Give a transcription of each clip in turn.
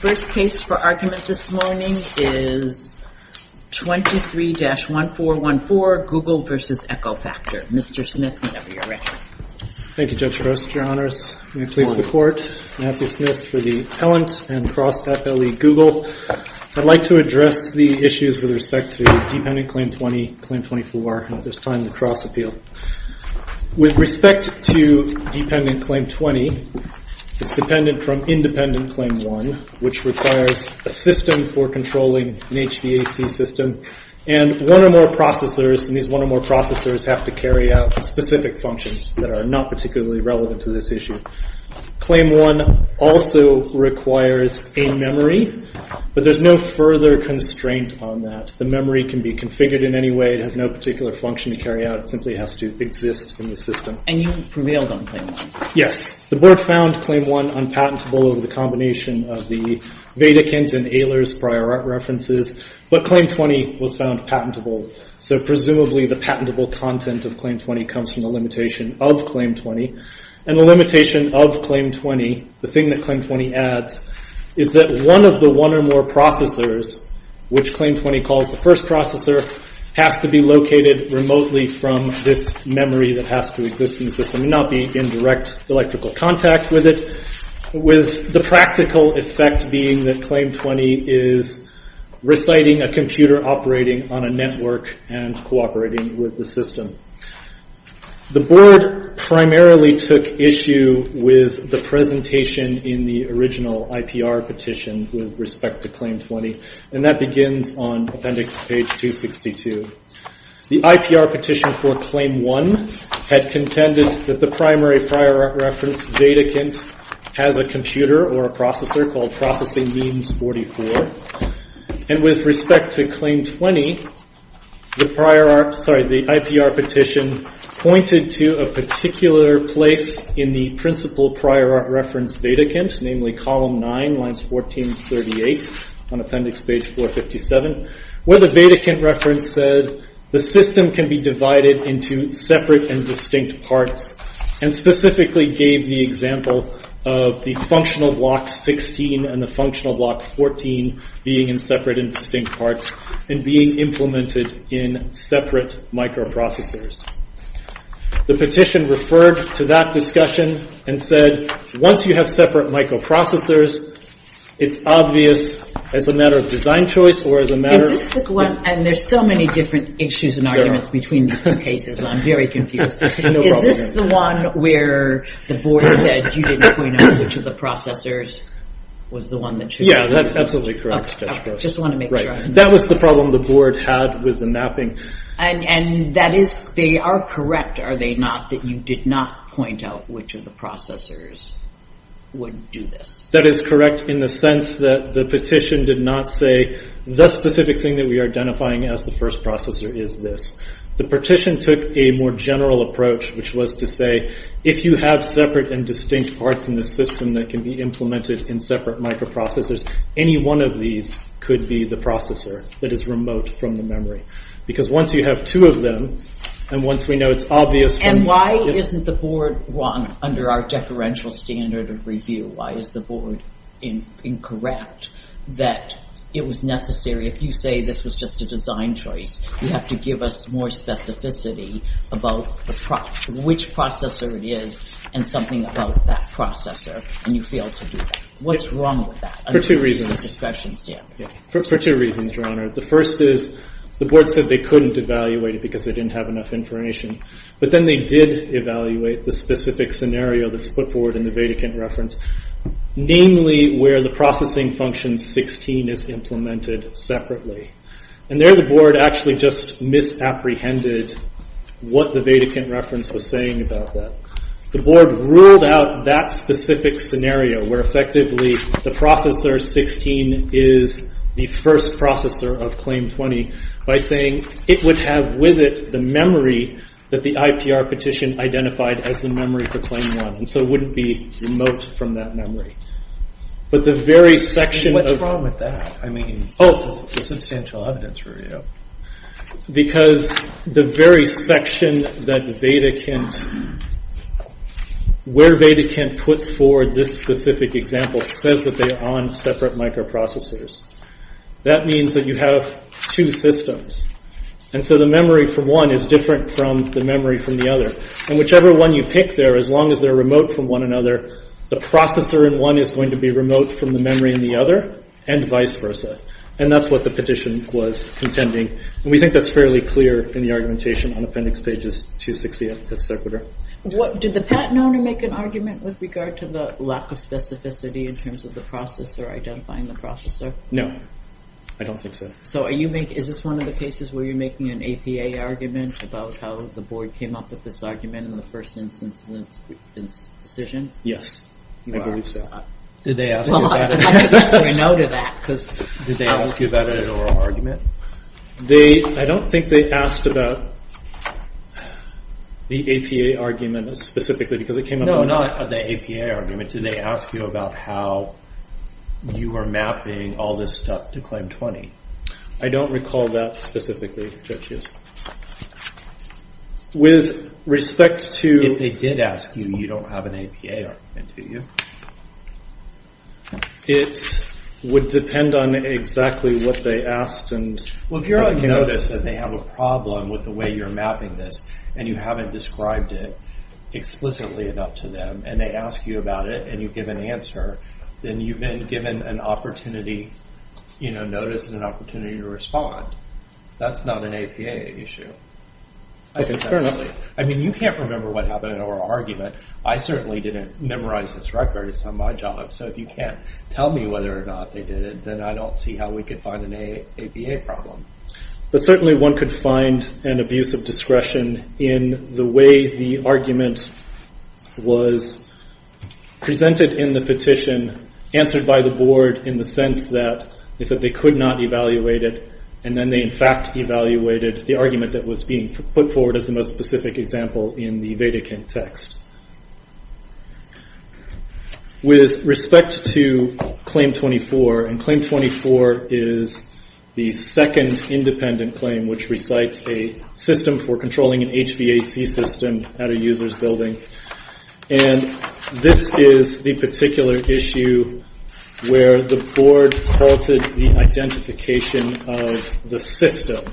First case for argument this morning is 23-1414, Google v. EcoFactor. Mr. Smith, whenever you're ready. Thank you, Judge Gross. Your Honors. May it please the Court. Matthew Smith for the Appellant and Cross FLE, Google. I'd like to address the issues with respect to Dependent Claim 20, Claim 24, and at this time the Cross Appeal. With respect to Dependent Claim 20, it's dependent from Independent Claim 1, which requires a system for controlling an HVAC system, and one or more processors, and these one or more processors have to carry out specific functions that are not particularly relevant to this issue. Claim 1 also requires a memory, but there's no further constraint on that. The memory can be configured in any way. It has no particular function to carry out. It simply has to exist in the system. And you prevailed on Claim 1. Yes. The Board found Claim 1 unpatentable over the combination of the Vedakint and Ehlers prior art references, but Claim 20 was found patentable. So presumably the patentable content of Claim 20 comes from the limitation of Claim 20, and the limitation of Claim 20, the thing that Claim 20 adds, is that one of the one or more processors, which Claim 20 calls the first processor, has to be located remotely from this memory that has to exist in the system, and not be in direct electrical contact with it, with the practical effect being that Claim 20 is reciting a computer operating on a network and cooperating with the system. The Board primarily took issue with the presentation in the original IPR petition with respect to Claim 20, and that begins on appendix page 262. The IPR petition for Claim 1 had contended that the primary prior art reference Vedakint has a computer or a processor called Processing Means 44, and with respect to Claim 20, the IPR petition pointed to a particular place in the principal prior art reference Vedakint, namely column 9, lines 14 and 38, on appendix page 457, where the Vedakint reference said, the system can be divided into separate and distinct parts, and specifically gave the example of the functional block 16 and the functional block 14 being in separate and distinct parts, and being implemented in separate microprocessors. The petition referred to that discussion and said, once you have separate microprocessors, it's obvious as a matter of design choice or as a matter of... The specific one, and there's so many different issues and arguments between these two cases, I'm very confused. Is this the one where the Board said you didn't point out which of the processors was the one that... Yeah, that's absolutely correct. Just want to make sure. That was the problem the Board had with the mapping. And that is, they are correct, are they not, that you did not point out which of the processors would do this? That is correct in the sense that the petition did not say, the specific thing that we are identifying as the first processor is this. The petition took a more general approach, which was to say, if you have separate and distinct parts in the system that can be implemented in separate microprocessors, any one of these could be the processor that is remote from the memory. Because once you have two of them, and once we know it's obvious... And why isn't the Board wrong under our deferential standard of review? Why is the Board incorrect that it was necessary, if you say this was just a design choice, you have to give us more specificity about which processor it is and something about that processor, and you failed to do that. What's wrong with that? For two reasons, Your Honor. The first is, the Board said they couldn't evaluate it because they didn't have enough information. But then they did evaluate the specific scenario that's put forward in the Vedicant reference, namely where the processing function 16 is implemented separately. And there the Board actually just misapprehended what the Vedicant reference was saying about that. The Board ruled out that specific scenario, where effectively the processor 16 is the first processor of claim 20, by saying it would have with it the memory that the IPR petition identified as the memory for claim 1. And so it wouldn't be remote from that memory. But the very section of... What's the problem with that? I mean, this is substantial evidence review. Because the very section that Vedicant... Where Vedicant puts forward this specific example says that they are on separate microprocessors. That means that you have two systems. And so the memory for one is different from the memory from the other. And whichever one you pick there, as long as they're remote from one another, the processor in one is going to be remote from the memory in the other, and vice versa. And that's what the petition was contending. And we think that's fairly clear in the argumentation on appendix pages 260 at sequitur. Did the patent owner make an argument with regard to the lack of specificity in terms of the processor identifying the processor? No, I don't think so. So is this one of the cases where you're making an APA argument about how the Board came up with this argument in the first instance of this decision? Yes, I believe so. Did they ask you about it? Well, I guess we know to that. Did they ask you about it in an oral argument? I don't think they asked about the APA argument specifically because it came up in the oral argument. No, not the APA argument. Did they ask you about how you were mapping all this stuff to Claim 20? I don't recall that specifically, Judge Hughes. With respect to- If they did ask you, you don't have an APA argument, do you? It would depend on exactly what they asked. Well, if you notice that they have a problem with the way you're mapping this and you haven't described it explicitly enough to them and they ask you about it and you give an answer, then you've been given an opportunity, notice and an opportunity to respond. That's not an APA issue. I mean, you can't remember what happened in an oral argument. I certainly didn't memorize this record. It's not my job. So if you can't tell me whether or not they did it, then I don't see how we could find an APA problem. But certainly one could find an abuse of discretion in the way the argument was presented in the petition, answered by the board in the sense that they said they could not evaluate it and then they in fact evaluated the argument that was being put forward as the most specific example in the Vatican text. With respect to Claim 24, and Claim 24 is the second independent claim which recites a system for controlling an HVAC system at a user's building, and this is the particular issue where the board faulted the identification of the system.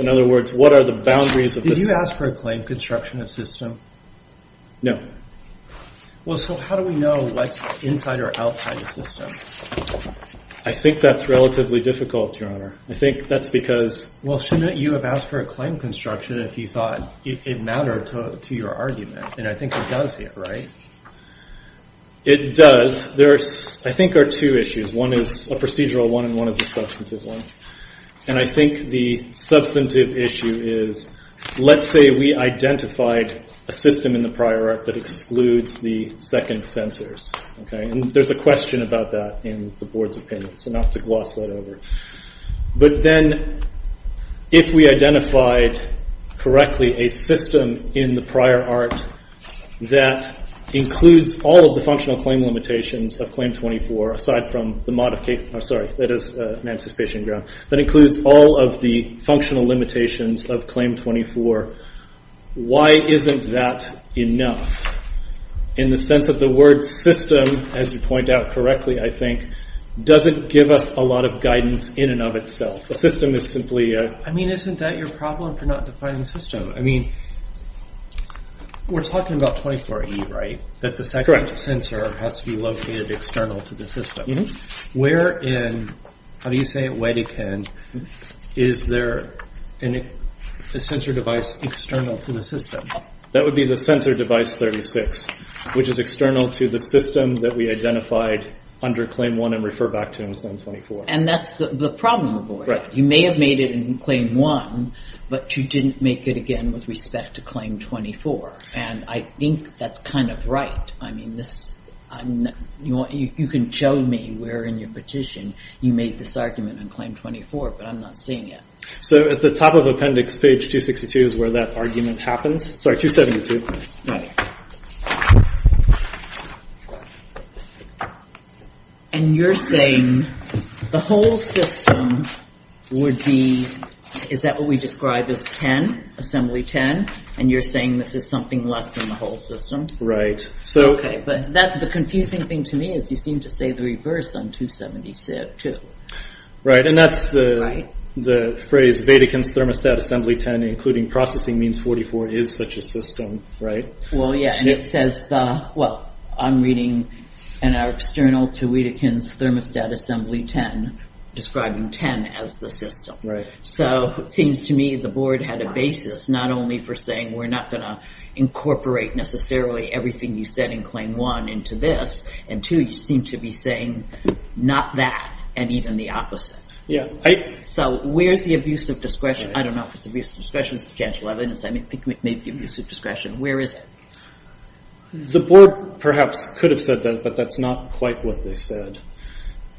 In other words, what are the boundaries of this? Did you ask for a claim construction of system? No. Well, so how do we know what's inside or outside the system? I think that's relatively difficult, Your Honor. I think that's because- Well, shouldn't you have asked for a claim construction if you thought it mattered to your argument? And I think it does here, right? It does. There, I think, are two issues. One is a procedural one and one is a substantive one. And I think the substantive issue is, let's say we identified a system in the prior art that excludes the second censors, and there's a question about that in the board's opinion, so not to gloss that over. But then if we identified correctly a system in the prior art that includes all of the functional claim limitations of Claim 24, aside from the modification- Oh, sorry, that is an anticipation ground. That includes all of the functional limitations of Claim 24, why isn't that enough? In the sense that the word system, as you point out correctly, I think, doesn't give us a lot of guidance in and of itself. A system is simply a- I mean, isn't that your problem for not defining system? I mean, we're talking about 24E, right? That the second censor has to be located external to the system. Where in, how do you say it, Wedekind, is there a censor device external to the system? That would be the censor device 36, which is external to the system that we identified under Claim 1 and refer back to in Claim 24. And that's the problem of the board. You may have made it in Claim 1, but you didn't make it again with respect to Claim 24. And I think that's kind of right. I mean, you can show me where in your petition you made this argument in Claim 24, but I'm not seeing it. So at the top of appendix page 262 is where that argument happens? Sorry, 272. Right. And you're saying the whole system would be- is that what we describe as 10, Assembly 10? And you're saying this is something less than the whole system? Okay, but the confusing thing to me is you seem to say the reverse on 272. Right, and that's the phrase, Wedekind's Thermostat Assembly 10 including Processing Means 44 is such a system, right? Well, yeah, and it says the- well, I'm reading in our external to Wedekind's Thermostat Assembly 10, describing 10 as the system. Right. So it seems to me the board had a basis not only for saying we're not going to incorporate necessarily everything you said in Claim 1 into this, and two, you seem to be saying not that and even the opposite. Yeah. So where's the abuse of discretion? I don't know if it's abuse of discretion, substantial evidence, maybe abuse of discretion. Where is it? The board perhaps could have said that, but that's not quite what they said.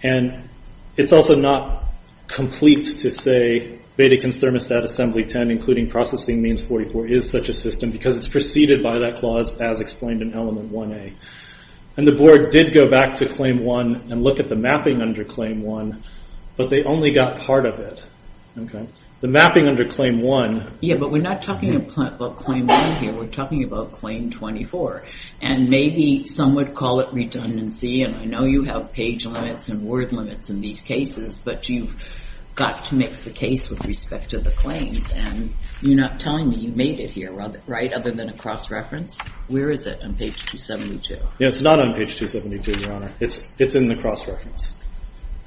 And it's also not complete to say Wedekind's Thermostat Assembly 10 including Processing Means 44 is such a system because it's preceded by that clause as explained in Element 1A. And the board did go back to Claim 1 and look at the mapping under Claim 1, but they only got part of it. Okay? The mapping under Claim 1- Yeah, but we're not talking about Claim 1 here. We're talking about Claim 24. And maybe some would call it redundancy, and I know you have page limits and word limits in these cases, but you've got to make the case with respect to the claims, and you're not telling me you made it here, right, other than a cross-reference? Where is it on Page 272? Yeah, it's not on Page 272, Your Honor. It's in the cross-reference.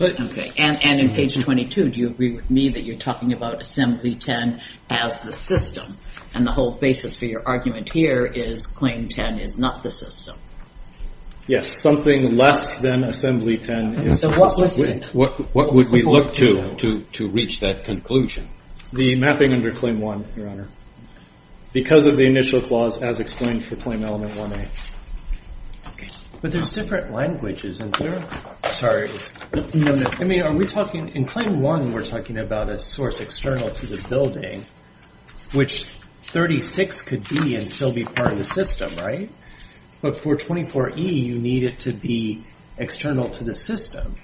Okay. And in Page 22, do you agree with me that you're talking about Assembly 10 as the system, and the whole basis for your argument here is Claim 10 is not the system? Yes, something less than Assembly 10 is the system. What would we look to to reach that conclusion? The mapping under Claim 1, Your Honor, because of the initial clause as explained for Claim Element 1A. Okay. But there's different languages, isn't there? Sorry. No, no. I mean, are we talking- In Claim 1, we're talking about a source external to the building which 36 could be and still be part of the system, right? But for 24E, you need it to be external to the system.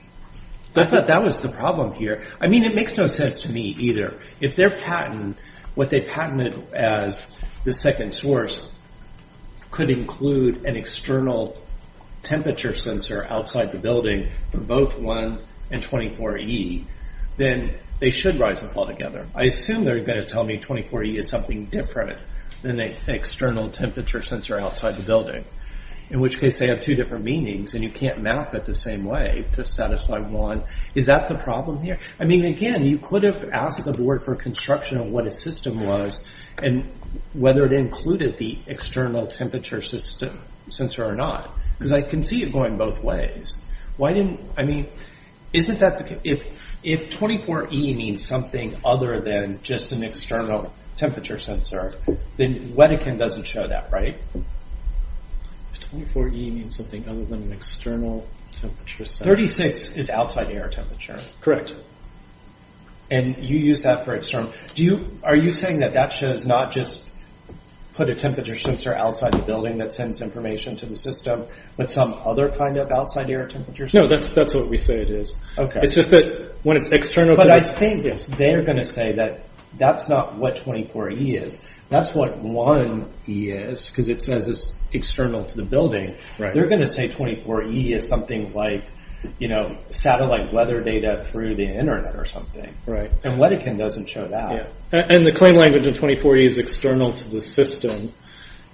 I thought that was the problem here. I mean, it makes no sense to me either. If their patent, what they patented as the second source, could include an external temperature sensor outside the building for both 1 and 24E, then they should rise and fall together. I assume they're going to tell me 24E is something different than an external temperature sensor outside the building, in which case they have two different meanings and you can't map it the same way to satisfy one. Is that the problem here? I mean, again, you could have asked the board for construction of what a system was and whether it included the external temperature sensor or not because I can see it going both ways. I mean, isn't that the- If 24E means something other than just an external temperature sensor, then Wedekind doesn't show that, right? If 24E means something other than an external temperature sensor- 36 is outside air temperature. Correct. And you use that for external- Are you saying that that shows not just put a temperature sensor outside the building that sends information to the system, but some other kind of outside air temperature sensor? No, that's what we say it is. It's just that when it's external- But I think they're going to say that that's not what 24E is. That's what 1E is because it says it's external to the building. They're going to say 24E is something like satellite weather data through the internet or something. And Wedekind doesn't show that. And the claim language of 24E is external to the system.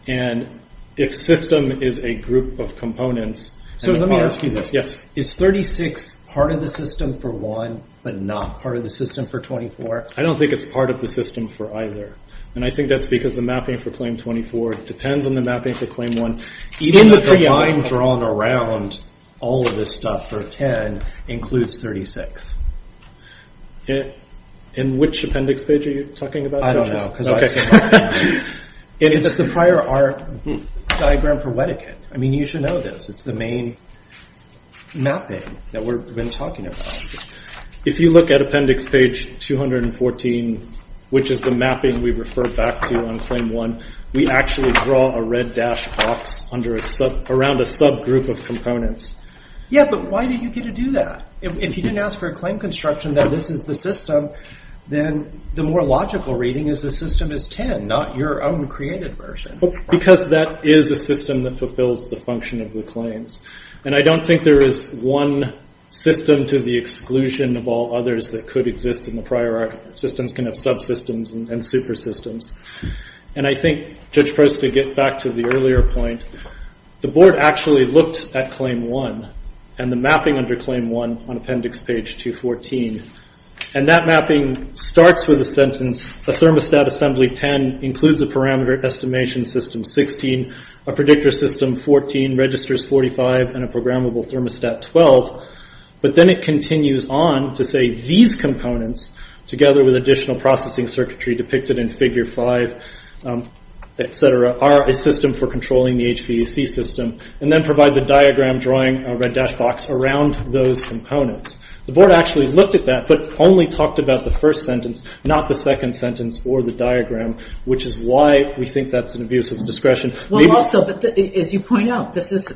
And if system is a group of components- So let me ask you this. Yes. Is 36 part of the system for 1, but not part of the system for 24? I don't think it's part of the system for either. And I think that's because the mapping for Claim 24 depends on the mapping for Claim 1. Even though the line drawn around all of this stuff for 10 includes 36. In which appendix page are you talking about, John? I don't know. It's the prior art diagram for Wedekind. You should know this. It's the main mapping that we've been talking about. If you look at appendix page 214, which is the mapping we refer back to on Claim 1, we actually draw a red dash box around a subgroup of components. Yeah, but why did you get to do that? If you didn't ask for a claim construction that this is the system, then the more logical reading is the system is 10, not your own created version. Because that is a system that fulfills the function of the claims. And I don't think there is one system to the exclusion of all others that could exist in the prior art. Systems can have subsystems and supersystems. And I think, Judge Prost, to get back to the earlier point, the board actually looked at Claim 1 and the mapping under Claim 1 on appendix page 214. And that mapping starts with a sentence, a thermostat assembly 10 includes a parameter estimation system 16, a predictor system 14, registers 45, and a programmable thermostat 12. But then it continues on to say these components, together with additional processing circuitry depicted in figure 5, et cetera, are a system for controlling the HVAC system. And then provides a diagram drawing a red dash box around those components. The board actually looked at that, but only talked about the first sentence, not the second sentence or the diagram, which is why we think that's an abuse of discretion. Well, also, as you point out, this is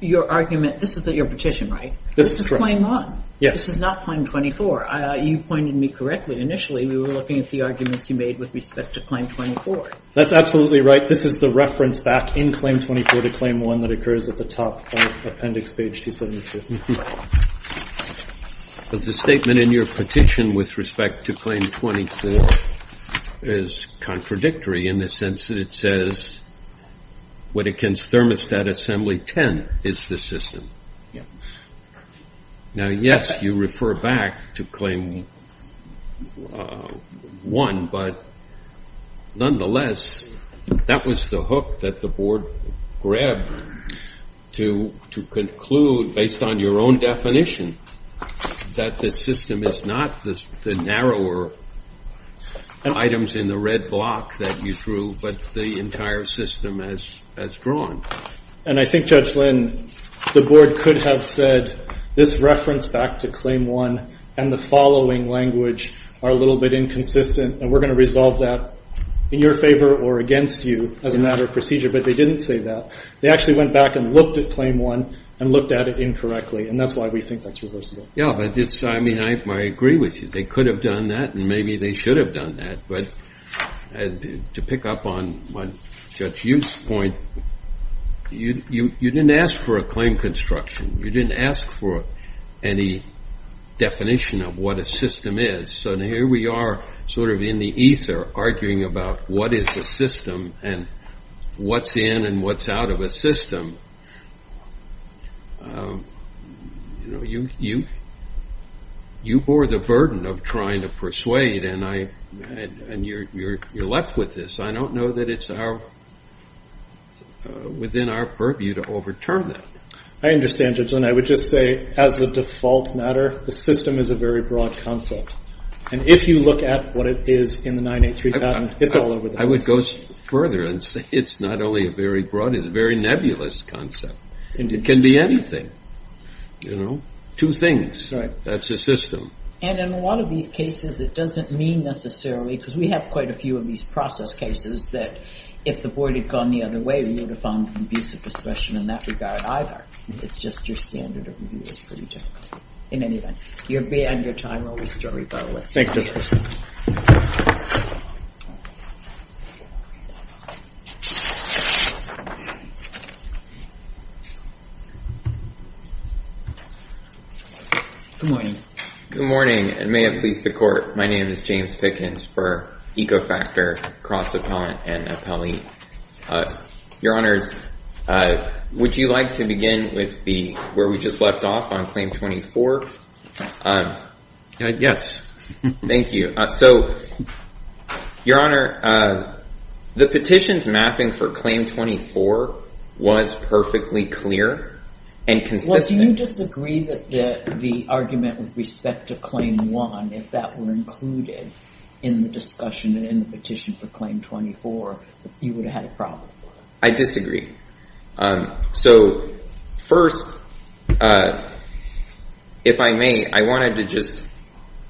your argument, this is your petition, right? This is Claim 1. Yes. This is not Claim 24. You pointed me correctly initially. We were looking at the arguments you made with respect to Claim 24. That's absolutely right. This is the reference back in Claim 24 to Claim 1 that occurs at the top of appendix page 272. But the statement in your petition with respect to Claim 24 is contradictory in the sense that it says, what against Thermostat Assembly 10 is the system? Now, yes, you refer back to Claim 1, but nonetheless, that was the hook that the board grabbed to conclude, based on your own definition, that the system is not the narrower items in the red block that you drew, but the entire system as drawn. And I think, Judge Lynn, the board could have said, this reference back to Claim 1 and the following language are a little bit inconsistent, and we're going to resolve that in your favor or against you as a matter of procedure. But they didn't say that. They actually went back and looked at Claim 1 and looked at it incorrectly, and that's why we think that's reversible. Yeah, I mean, I agree with you. They could have done that, and maybe they should have done that. But to pick up on Judge Youth's point, you didn't ask for a claim construction. You didn't ask for any definition of what a system is. So here we are, sort of in the ether, arguing about what is a system and what's in and what's out of a system. You bore the burden of trying to persuade, and you're left with this. I don't know that it's within our purview to overturn that. I understand, Judge Lynn. I would just say, as a default matter, the system is a very broad concept. And if you look at what it is in the 983 patent, it's all over the place. I would go further and say it's not only a very broad, it's a very nebulous concept. It can be anything, you know, two things. That's a system. And in a lot of these cases, it doesn't mean necessarily, because we have quite a few of these process cases that if the board had gone the other way, we would have found abusive discretion in that regard either. It's just your standard of review is pretty difficult. In any event, your time will be storied, though. Thank you. Good morning. Good morning, and may it please the Court. My name is James Pickens for Ecofactor, Cross Appellant, and Appellee. Your Honors, would you like to begin with where we just left off on Claim 24? Yes. Thank you. So, Your Honor, the petition's mapping for Claim 24 was perfectly clear and consistent. Well, do you disagree that the argument with respect to Claim 1, if that were included in the discussion and in the petition for Claim 24, you would have had a problem? I disagree. So, first, if I may, I wanted to just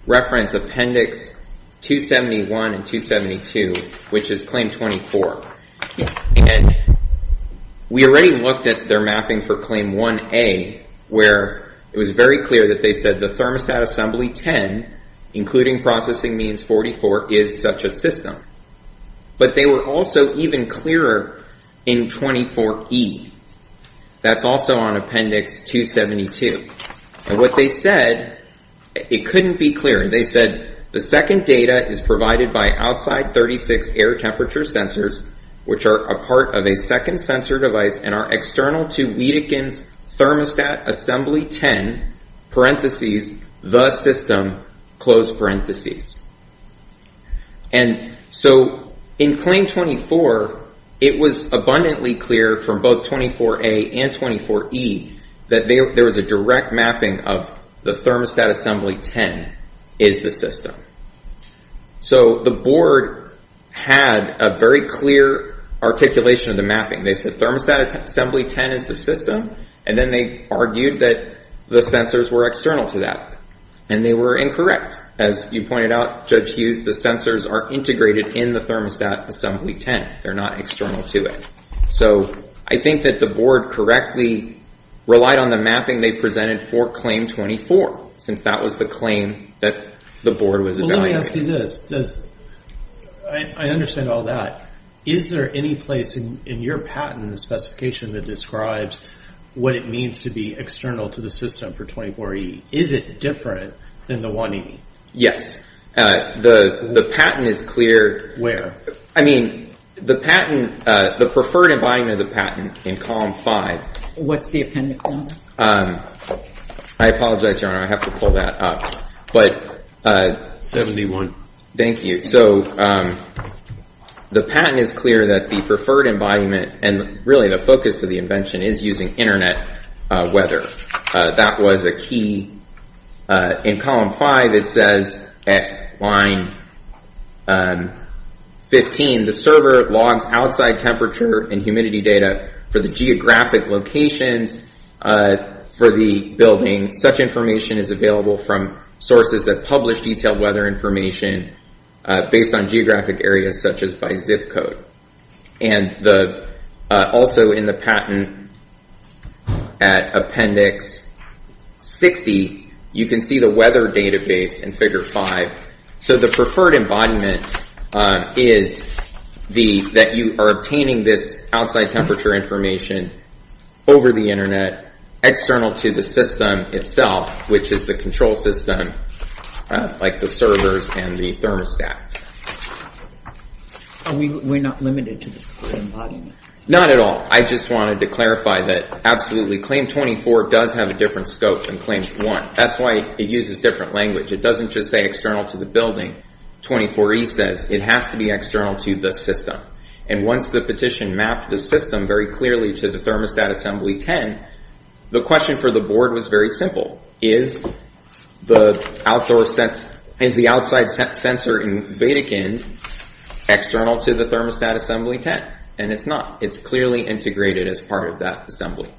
reference Appendix 271 and 272, which is Claim 24. And we already looked at their mapping for Claim 1A, where it was very clear that they said the Thermostat Assembly 10, including processing means 44, is such a system. But they were also even clearer in 24E. That's also on Appendix 272. And what they said, it couldn't be clearer. They said, The second data is provided by outside 36 air temperature sensors, which are a part of a second sensor device and are external to Wiedekind's Thermostat Assembly 10, the system. And so in Claim 24, it was abundantly clear from both 24A and 24E that there was a direct mapping of the Thermostat Assembly 10 is the system. So the board had a very clear articulation of the mapping. They said Thermostat Assembly 10 is the system, and then they argued that the sensors were external to that. And they were incorrect. As you pointed out, Judge Hughes, the sensors are integrated in the Thermostat Assembly 10. They're not external to it. So I think that the board correctly relied on the mapping they presented for Claim 24, since that was the claim that the board was evaluating. Well, let me ask you this. I understand all that. Is there any place in your patent, the specification that describes what it means to be external to the system for 24E? Is it different than the 180? Yes. The patent is clear. Where? I mean, the patent, the preferred embodiment of the patent in Column 5. What's the appendix number? I apologize, Your Honor, I have to pull that up. 71. Thank you. So the patent is clear that the preferred embodiment, and really the focus of the invention, is using Internet weather. That was a key. In Column 5, it says at line 15, the server logs outside temperature and humidity data for the geographic locations for the building. Such information is available from sources that publish detailed weather information based on geographic areas, such as by zip code. And also in the patent at appendix 60, you can see the weather database in Figure 5. So the preferred embodiment is that you are obtaining this outside temperature information over the Internet, external to the system itself, which is the control system, like the servers and the thermostat. We're not limited to the preferred embodiment? Not at all. I just wanted to clarify that absolutely. Claim 24 does have a different scope than Claim 1. That's why it uses different language. It doesn't just say external to the building. 24E says it has to be external to the system. And once the petition mapped the system very clearly to the Thermostat Assembly 10, the question for the Board was very simple. Is the outside sensor in Vatican external to the Thermostat Assembly 10? And it's not. It's clearly integrated as part of that assembly.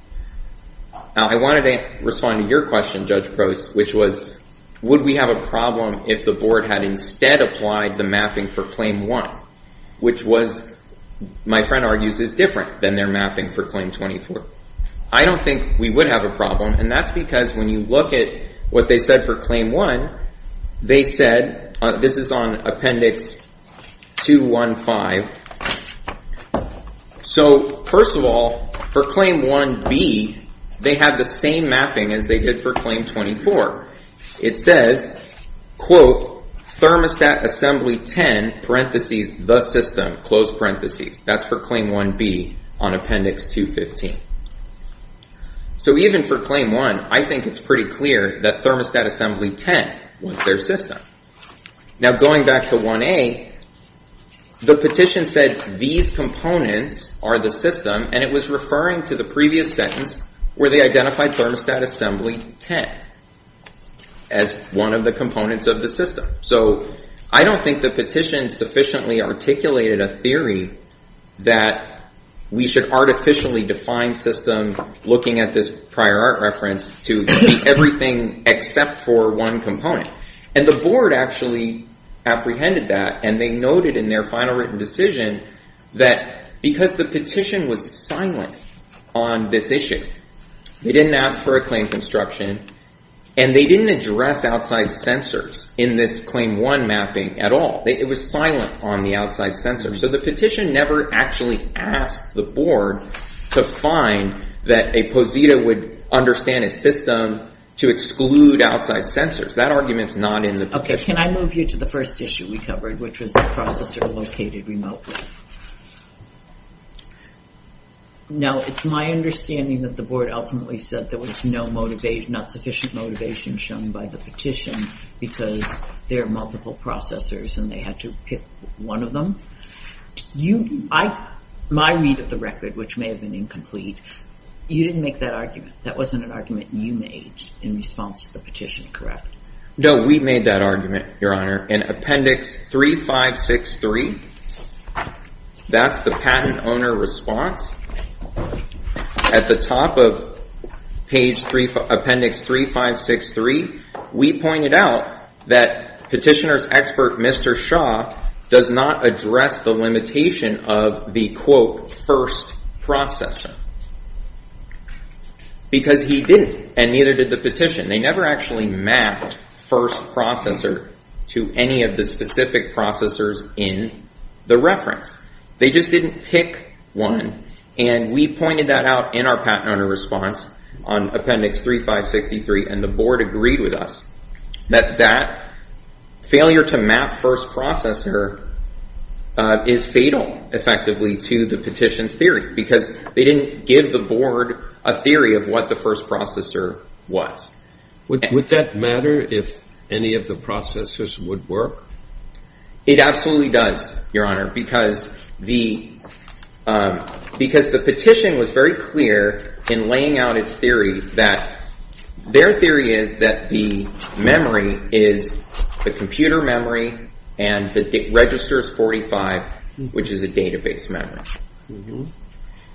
Now, I wanted to respond to your question, Judge Prost, which was, would we have a problem if the Board had instead applied the mapping for Claim 1, which was, my friend argues, is different than their mapping for Claim 24? I don't think we would have a problem. And that's because when you look at what they said for Claim 1, they said, this is on Appendix 215. So, first of all, for Claim 1B, they have the same mapping as they did for Claim 24. It says, quote, Thermostat Assembly 10, parentheses, the system, close parentheses. That's for Claim 1B on Appendix 215. So, even for Claim 1, I think it's pretty clear that Thermostat Assembly 10 was their system. Now, going back to 1A, the petition said, these components are the system, and it was referring to the previous sentence where they identified Thermostat Assembly 10 as one of the components of the system. So, I don't think the petition sufficiently articulated a theory that we should artificially define systems looking at this prior art reference to be everything except for one component. And the board actually apprehended that, and they noted in their final written decision that because the petition was silent on this issue, they didn't ask for a claim construction, and they didn't address outside censors in this Claim 1 mapping at all. It was silent on the outside censors. So, the petition never actually asked the board to find that a POSITA would understand a system to exclude outside censors. That argument's not in the petition. Okay, can I move you to the first issue we covered, which was the processor located remotely? Now, it's my understanding that the board ultimately said there was no motivation, not sufficient motivation shown by the petition, because there are multiple processors and they had to pick one of them. My read of the record, which may have been incomplete, you didn't make that argument. That wasn't an argument you made in response to the petition, correct? No, we made that argument, Your Honor. In Appendix 3563, that's the patent owner response. At the top of Appendix 3563, we pointed out that petitioner's expert, Mr. Shaw, does not address the limitation of the, quote, first processor. Because he didn't, and neither did the petition. They never actually mapped first processor to any of the specific processors in the reference. They just didn't pick one. And we pointed that out in our patent owner response on Appendix 3563, and the board agreed with us that that failure to map first processor is fatal, effectively, to the petition's theory, because they didn't give the board a theory of what the first processor was. Would that matter if any of the processors would work? It absolutely does, Your Honor, because the petition was very clear in laying out its theory that their theory is that the memory is the computer memory and that it registers 45, which is a database memory.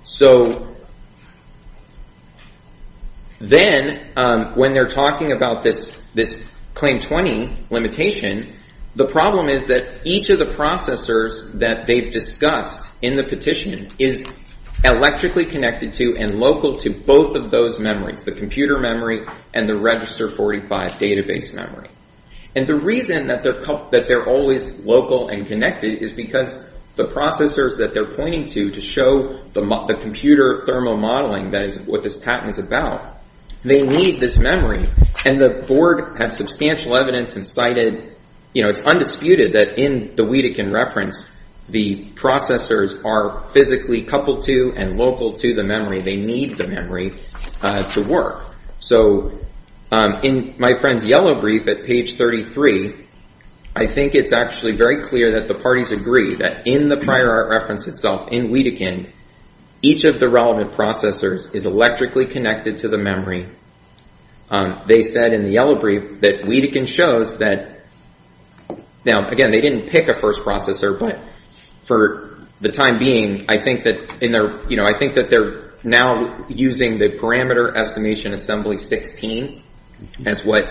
So then, when they're talking about this Claim 20 limitation, the problem is that each of the processors that they've discussed in the petition is electrically connected to and local to both of those memories, the computer memory and the register 45 database memory. And the reason that they're always local and connected is because the processors that they're pointing to to show the computer thermo-modeling, that is what this patent is about, they need this memory. And the board had substantial evidence and cited, you know, it's undisputed that in the Wedekind reference, the processors are physically coupled to and local to the memory. They need the memory to work. So in my friend's yellow brief at page 33, I think it's actually very clear that the parties agree that in the prior art reference itself, in Wedekind, each of the relevant processors is electrically connected to the memory. They said in the yellow brief that Wedekind shows that, now, again, they didn't pick a first processor, but for the time being, I think that they're now using the parameter estimation assembly 16 as what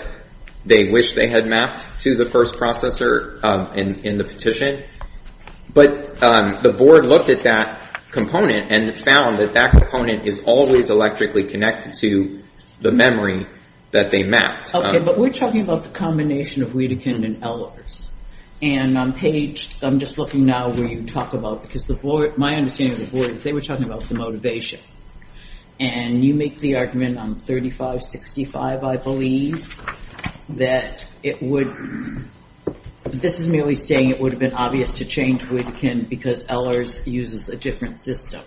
they wish they had mapped to the first processor in the petition. But the board looked at that component and found that that component is always electrically connected to the memory that they mapped. Okay, but we're talking about the combination of Wedekind and LRs. And on page, I'm just looking now where you talk about, because my understanding of the board is they were talking about the motivation. And you make the argument on 3565, I believe, that this is merely saying it would have been obvious to change Wedekind because LRs uses a different system.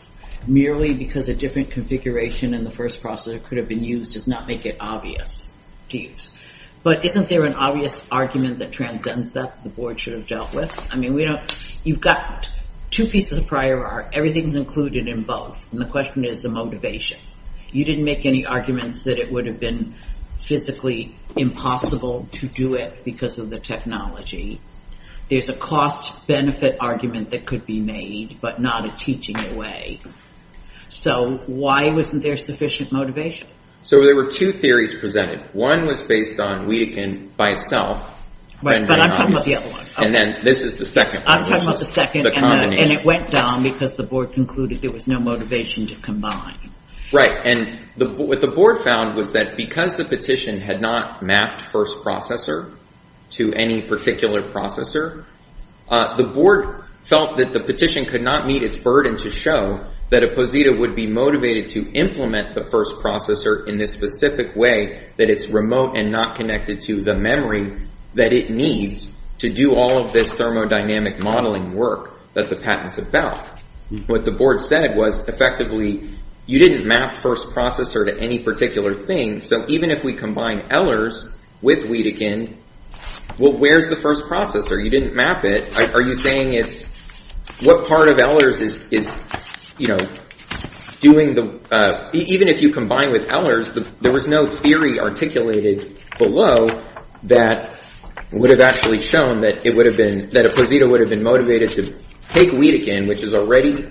Merely because a different configuration in the first processor could have been used does not make it obvious to use. But isn't there an obvious argument that transcends that the board should have dealt with? You've got two pieces of prior art. Everything's included in both. And the question is the motivation. You didn't make any arguments that it would have been physically impossible to do it because of the technology. There's a cost-benefit argument that could be made, but not a teaching away. So why wasn't there sufficient motivation? So there were two theories presented. One was based on Wedekind by itself. But I'm talking about the other one. And then this is the second one, which is the combination. And it went down because the board concluded there was no motivation to combine. Right. And what the board found was that because the petition had not mapped first processor to any particular processor, the board felt that the petition could not meet its burden to show that a Posita would be motivated to implement the first processor in this specific way that it's remote and not connected to the memory that it needs to do all of this thermodynamic modeling work that the patent's about. What the board said was, effectively, you didn't map first processor to any particular thing. So even if we combine Ehlers with Wedekind, well, where's the first processor? You didn't map it. Are you saying it's what part of Ehlers is, you know, doing the – even if you combine with Ehlers, there was no theory articulated below that would have actually shown that it would have been – take Wedekind, which is already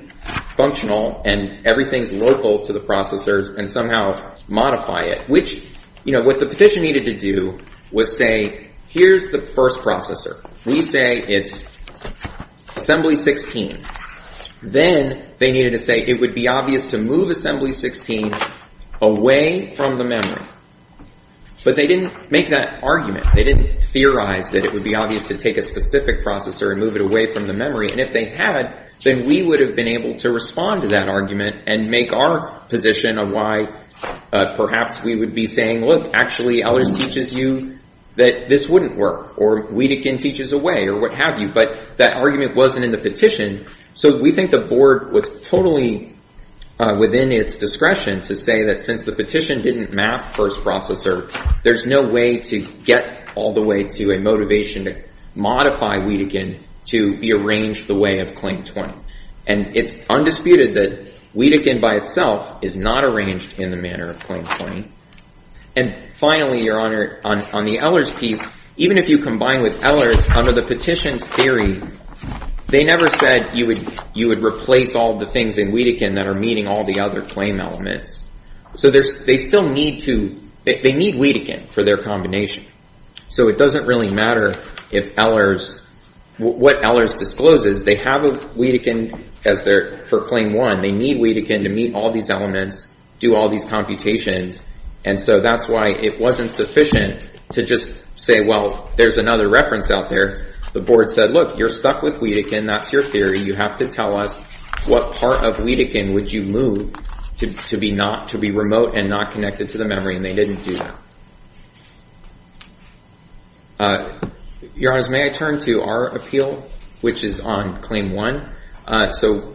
functional and everything's local to the processors, and somehow modify it, which, you know, what the petition needed to do was say, here's the first processor. We say it's assembly 16. Then they needed to say it would be obvious to move assembly 16 away from the memory. But they didn't make that argument. They didn't theorize that it would be obvious to take a specific processor and move it away from the memory. And if they had, then we would have been able to respond to that argument and make our position of why perhaps we would be saying, look, actually Ehlers teaches you that this wouldn't work, or Wedekind teaches a way, or what have you. But that argument wasn't in the petition. So we think the board was totally within its discretion to say that since the petition didn't map first processor, there's no way to get all the way to a motivation to modify Wedekind to rearrange the way of Claim 20. And it's undisputed that Wedekind by itself is not arranged in the manner of Claim 20. And finally, Your Honor, on the Ehlers piece, even if you combine with Ehlers, under the petition's theory, they never said you would replace all the things in Wedekind that are meeting all the other claim elements. So they still need Wedekind for their combination. So it doesn't really matter what Ehlers discloses. They have Wedekind for Claim 1. They need Wedekind to meet all these elements, do all these computations. And so that's why it wasn't sufficient to just say, well, there's another reference out there. The board said, look, you're stuck with Wedekind. That's your theory. You have to tell us what part of Wedekind would you move to be remote and not connected to the memory, and they didn't do that. Your Honor, may I turn to our appeal, which is on Claim 1? So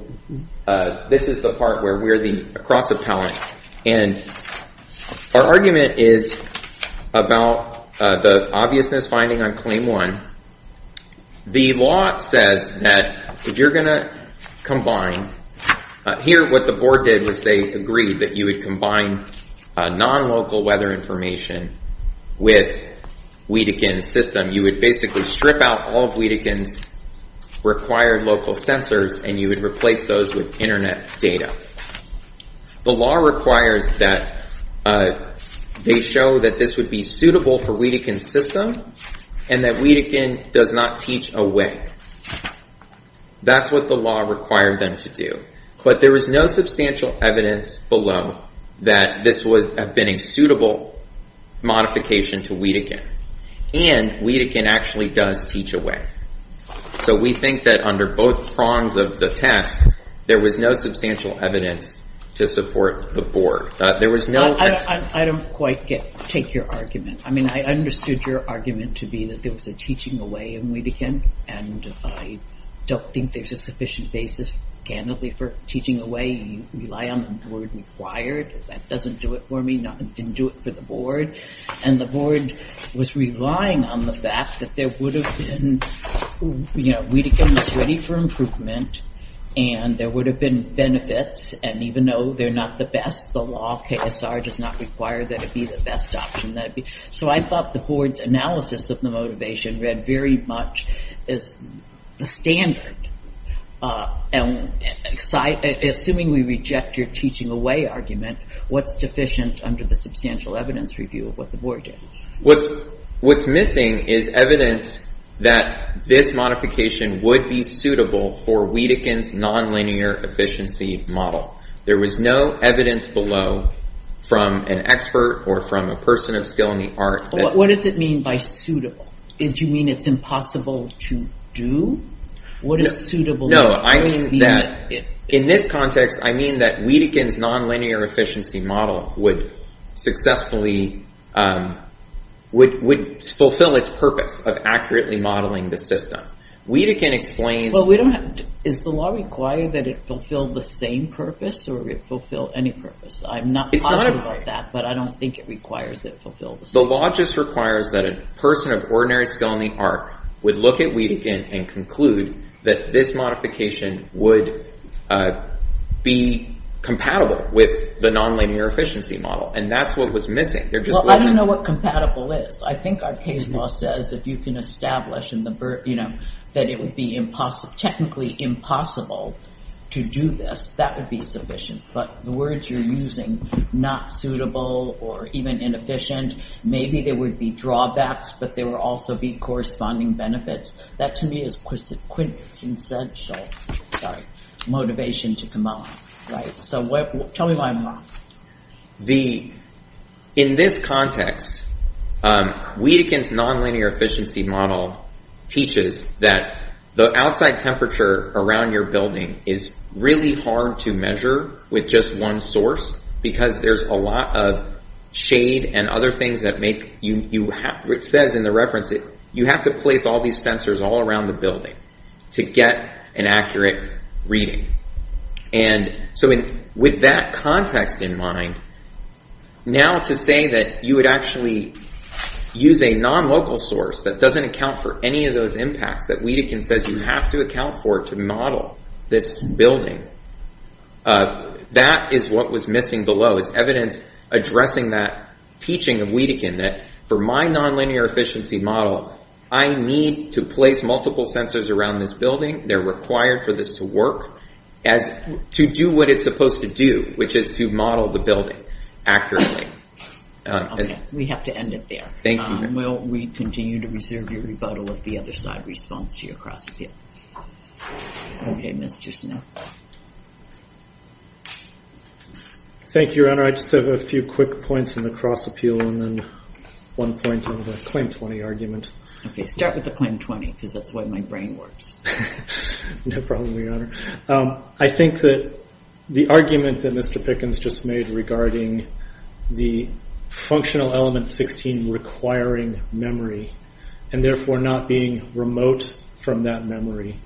this is the part where we're the cross appellant. And our argument is about the obviousness finding on Claim 1. The law says that if you're going to combine, here what the board did was they agreed that you would combine non-local weather information with Wedekind's system. You would basically strip out all of Wedekind's required local sensors and you would replace those with Internet data. The law requires that they show that this would be suitable for Wedekind's system and that Wedekind does not teach away. That's what the law required them to do. But there was no substantial evidence below that this would have been a suitable modification to Wedekind. And Wedekind actually does teach away. So we think that under both prongs of the test, there was no substantial evidence to support the board. I don't quite take your argument. I mean, I understood your argument to be that there was a teaching away in Wedekind and I don't think there's a sufficient basis, candidly, for teaching away. You rely on the word required. That doesn't do it for me. It didn't do it for the board. And the board was relying on the fact that there would have been, you know, Wedekind was ready for improvement and there would have been benefits. And even though they're not the best, the law, KSR, does not require that it be the best option. So I thought the board's analysis of the motivation read very much as the standard. Assuming we reject your teaching away argument, what's deficient under the substantial evidence review of what the board did? What's missing is evidence that this modification would be suitable for Wedekind's nonlinear efficiency model. There was no evidence below from an expert or from a person of skill in the art. What does it mean by suitable? Do you mean it's impossible to do? What is suitable? No, I mean that in this context, I mean that Wedekind's nonlinear efficiency model would successfully, would fulfill its purpose of accurately modeling the system. Wedekind explains. Is the law required that it fulfill the same purpose or it fulfill any purpose? I'm not positive about that, but I don't think it requires that it fulfill the same purpose. The law just requires that a person of ordinary skill in the art would look at Wedekind and conclude that this modification would be compatible with the nonlinear efficiency model. And that's what was missing. I don't know what compatible is. I think our case law says, if you can establish that it would be technically impossible to do this, that would be sufficient. But the words you're using, not suitable or even inefficient, maybe there would be drawbacks, but there would also be corresponding benefits. That to me is quintessential motivation to come up. So tell me why I'm wrong. In this context, Wedekind's nonlinear efficiency model teaches that the outside temperature around your building is really hard to measure with just one source because there's a lot of shade and other things that make you, it says in the reference that you have to place all these sensors all around the building to get an accurate reading. And so with that context in mind, now to say that you would actually use a nonlocal source that doesn't account for any of those impacts that Wedekind says you have to account for to model this building, that is what was missing below is evidence addressing that teaching of Wedekind that for my nonlinear efficiency model, I need to place multiple sensors around this building. They're required for this to work as to do what it's supposed to do, which is to model the building accurately. Okay. We have to end it there. Thank you. Well, we continue to reserve your rebuttal of the other side response to your cross-appeal. Okay, Mr. Smith. Thank you, Your Honor. I just have a few quick points in the cross-appeal and then one point on the claim 20 argument. Okay. I'll start with the claim 20 because that's the way my brain works. No problem, Your Honor. I think that the argument that Mr. Pickens just made regarding the functional element 16 requiring memory and therefore not being remote from that memory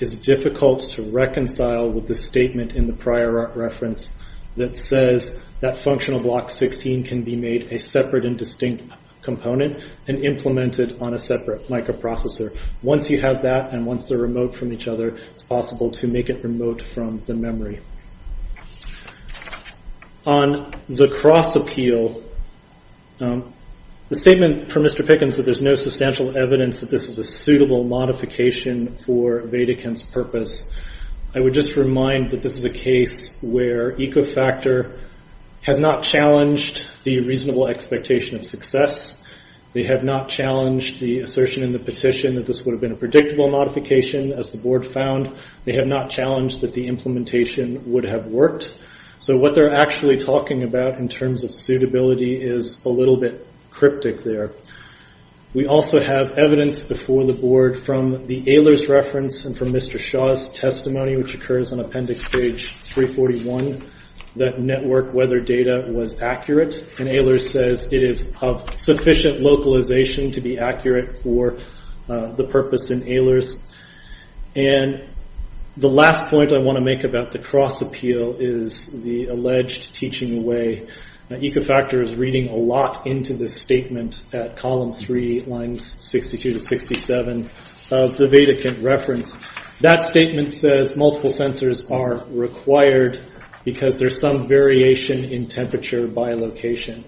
is difficult to reconcile with the statement in the prior reference that says that functional block 16 can be made a separate and distinct component and implemented on a separate microprocessor. Once you have that and once they're remote from each other, it's possible to make it remote from the memory. On the cross-appeal, the statement from Mr. Pickens that there's no substantial evidence that this is a suitable modification for Vadeken's purpose, I would just remind that this is a case where Ecofactor has not challenged the reasonable expectation of success. They have not challenged the assertion in the petition that this would have been a predictable modification. As the board found, they have not challenged that the implementation would have worked. So what they're actually talking about in terms of suitability is a little bit cryptic there. We also have evidence before the board from the Ehlers reference and from Mr. Shaw's testimony, which occurs on appendix page 341, that network weather data was accurate. Ehlers says it is of sufficient localization to be accurate for the purpose in Ehlers. The last point I want to make about the cross-appeal is the alleged teaching away. Ecofactor is reading a lot into this statement at column 3, lines 62 to 67 of the Vadeken reference. That statement says multiple sensors are required because there's some variation in temperature by location.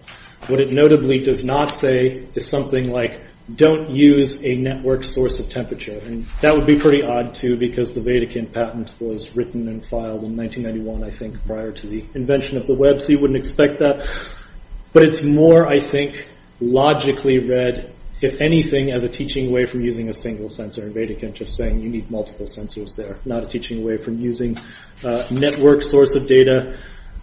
What it notably does not say is something like, don't use a network source of temperature. That would be pretty odd, too, because the Vadeken patent was written and filed in 1991, I think, prior to the invention of the web, so you wouldn't expect that. But it's more, I think, logically read, if anything, as a teaching away from using a single sensor. Vadeken just saying you need multiple sensors there, not a teaching away from using a network source of data.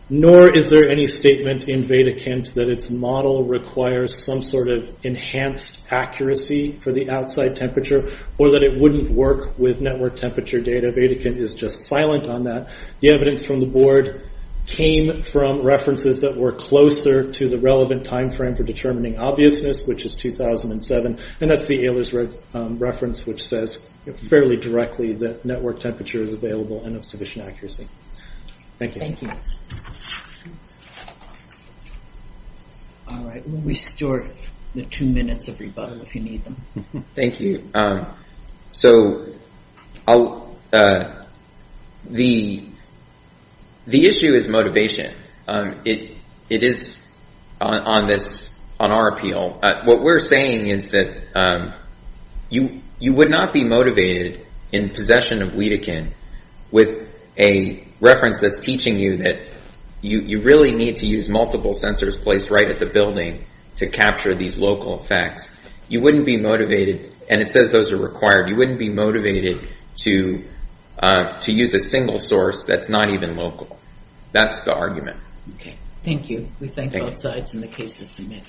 Nor is there any statement in Vadeken that its model requires some sort of enhanced accuracy for the outside temperature, or that it wouldn't work with network temperature data. Vadeken is just silent on that. The evidence from the board came from references that were closer to the relevant time frame for determining obviousness, which is 2007. And that's the Ehlers reference, which says fairly directly that network temperature is available and of sufficient accuracy. Thank you. All right. We'll restore the two minutes of rebuttal if you need them. Thank you. So the issue is motivation. It is on our appeal. What we're saying is that you would not be motivated in possession of Vadeken with a reference that's teaching you that you really need to use multiple sensors placed right at the building to capture these local effects. You wouldn't be motivated, and it says those are required, you wouldn't be motivated to use a single source that's not even local. That's the argument. Thank you. We thank both sides in the case to submit.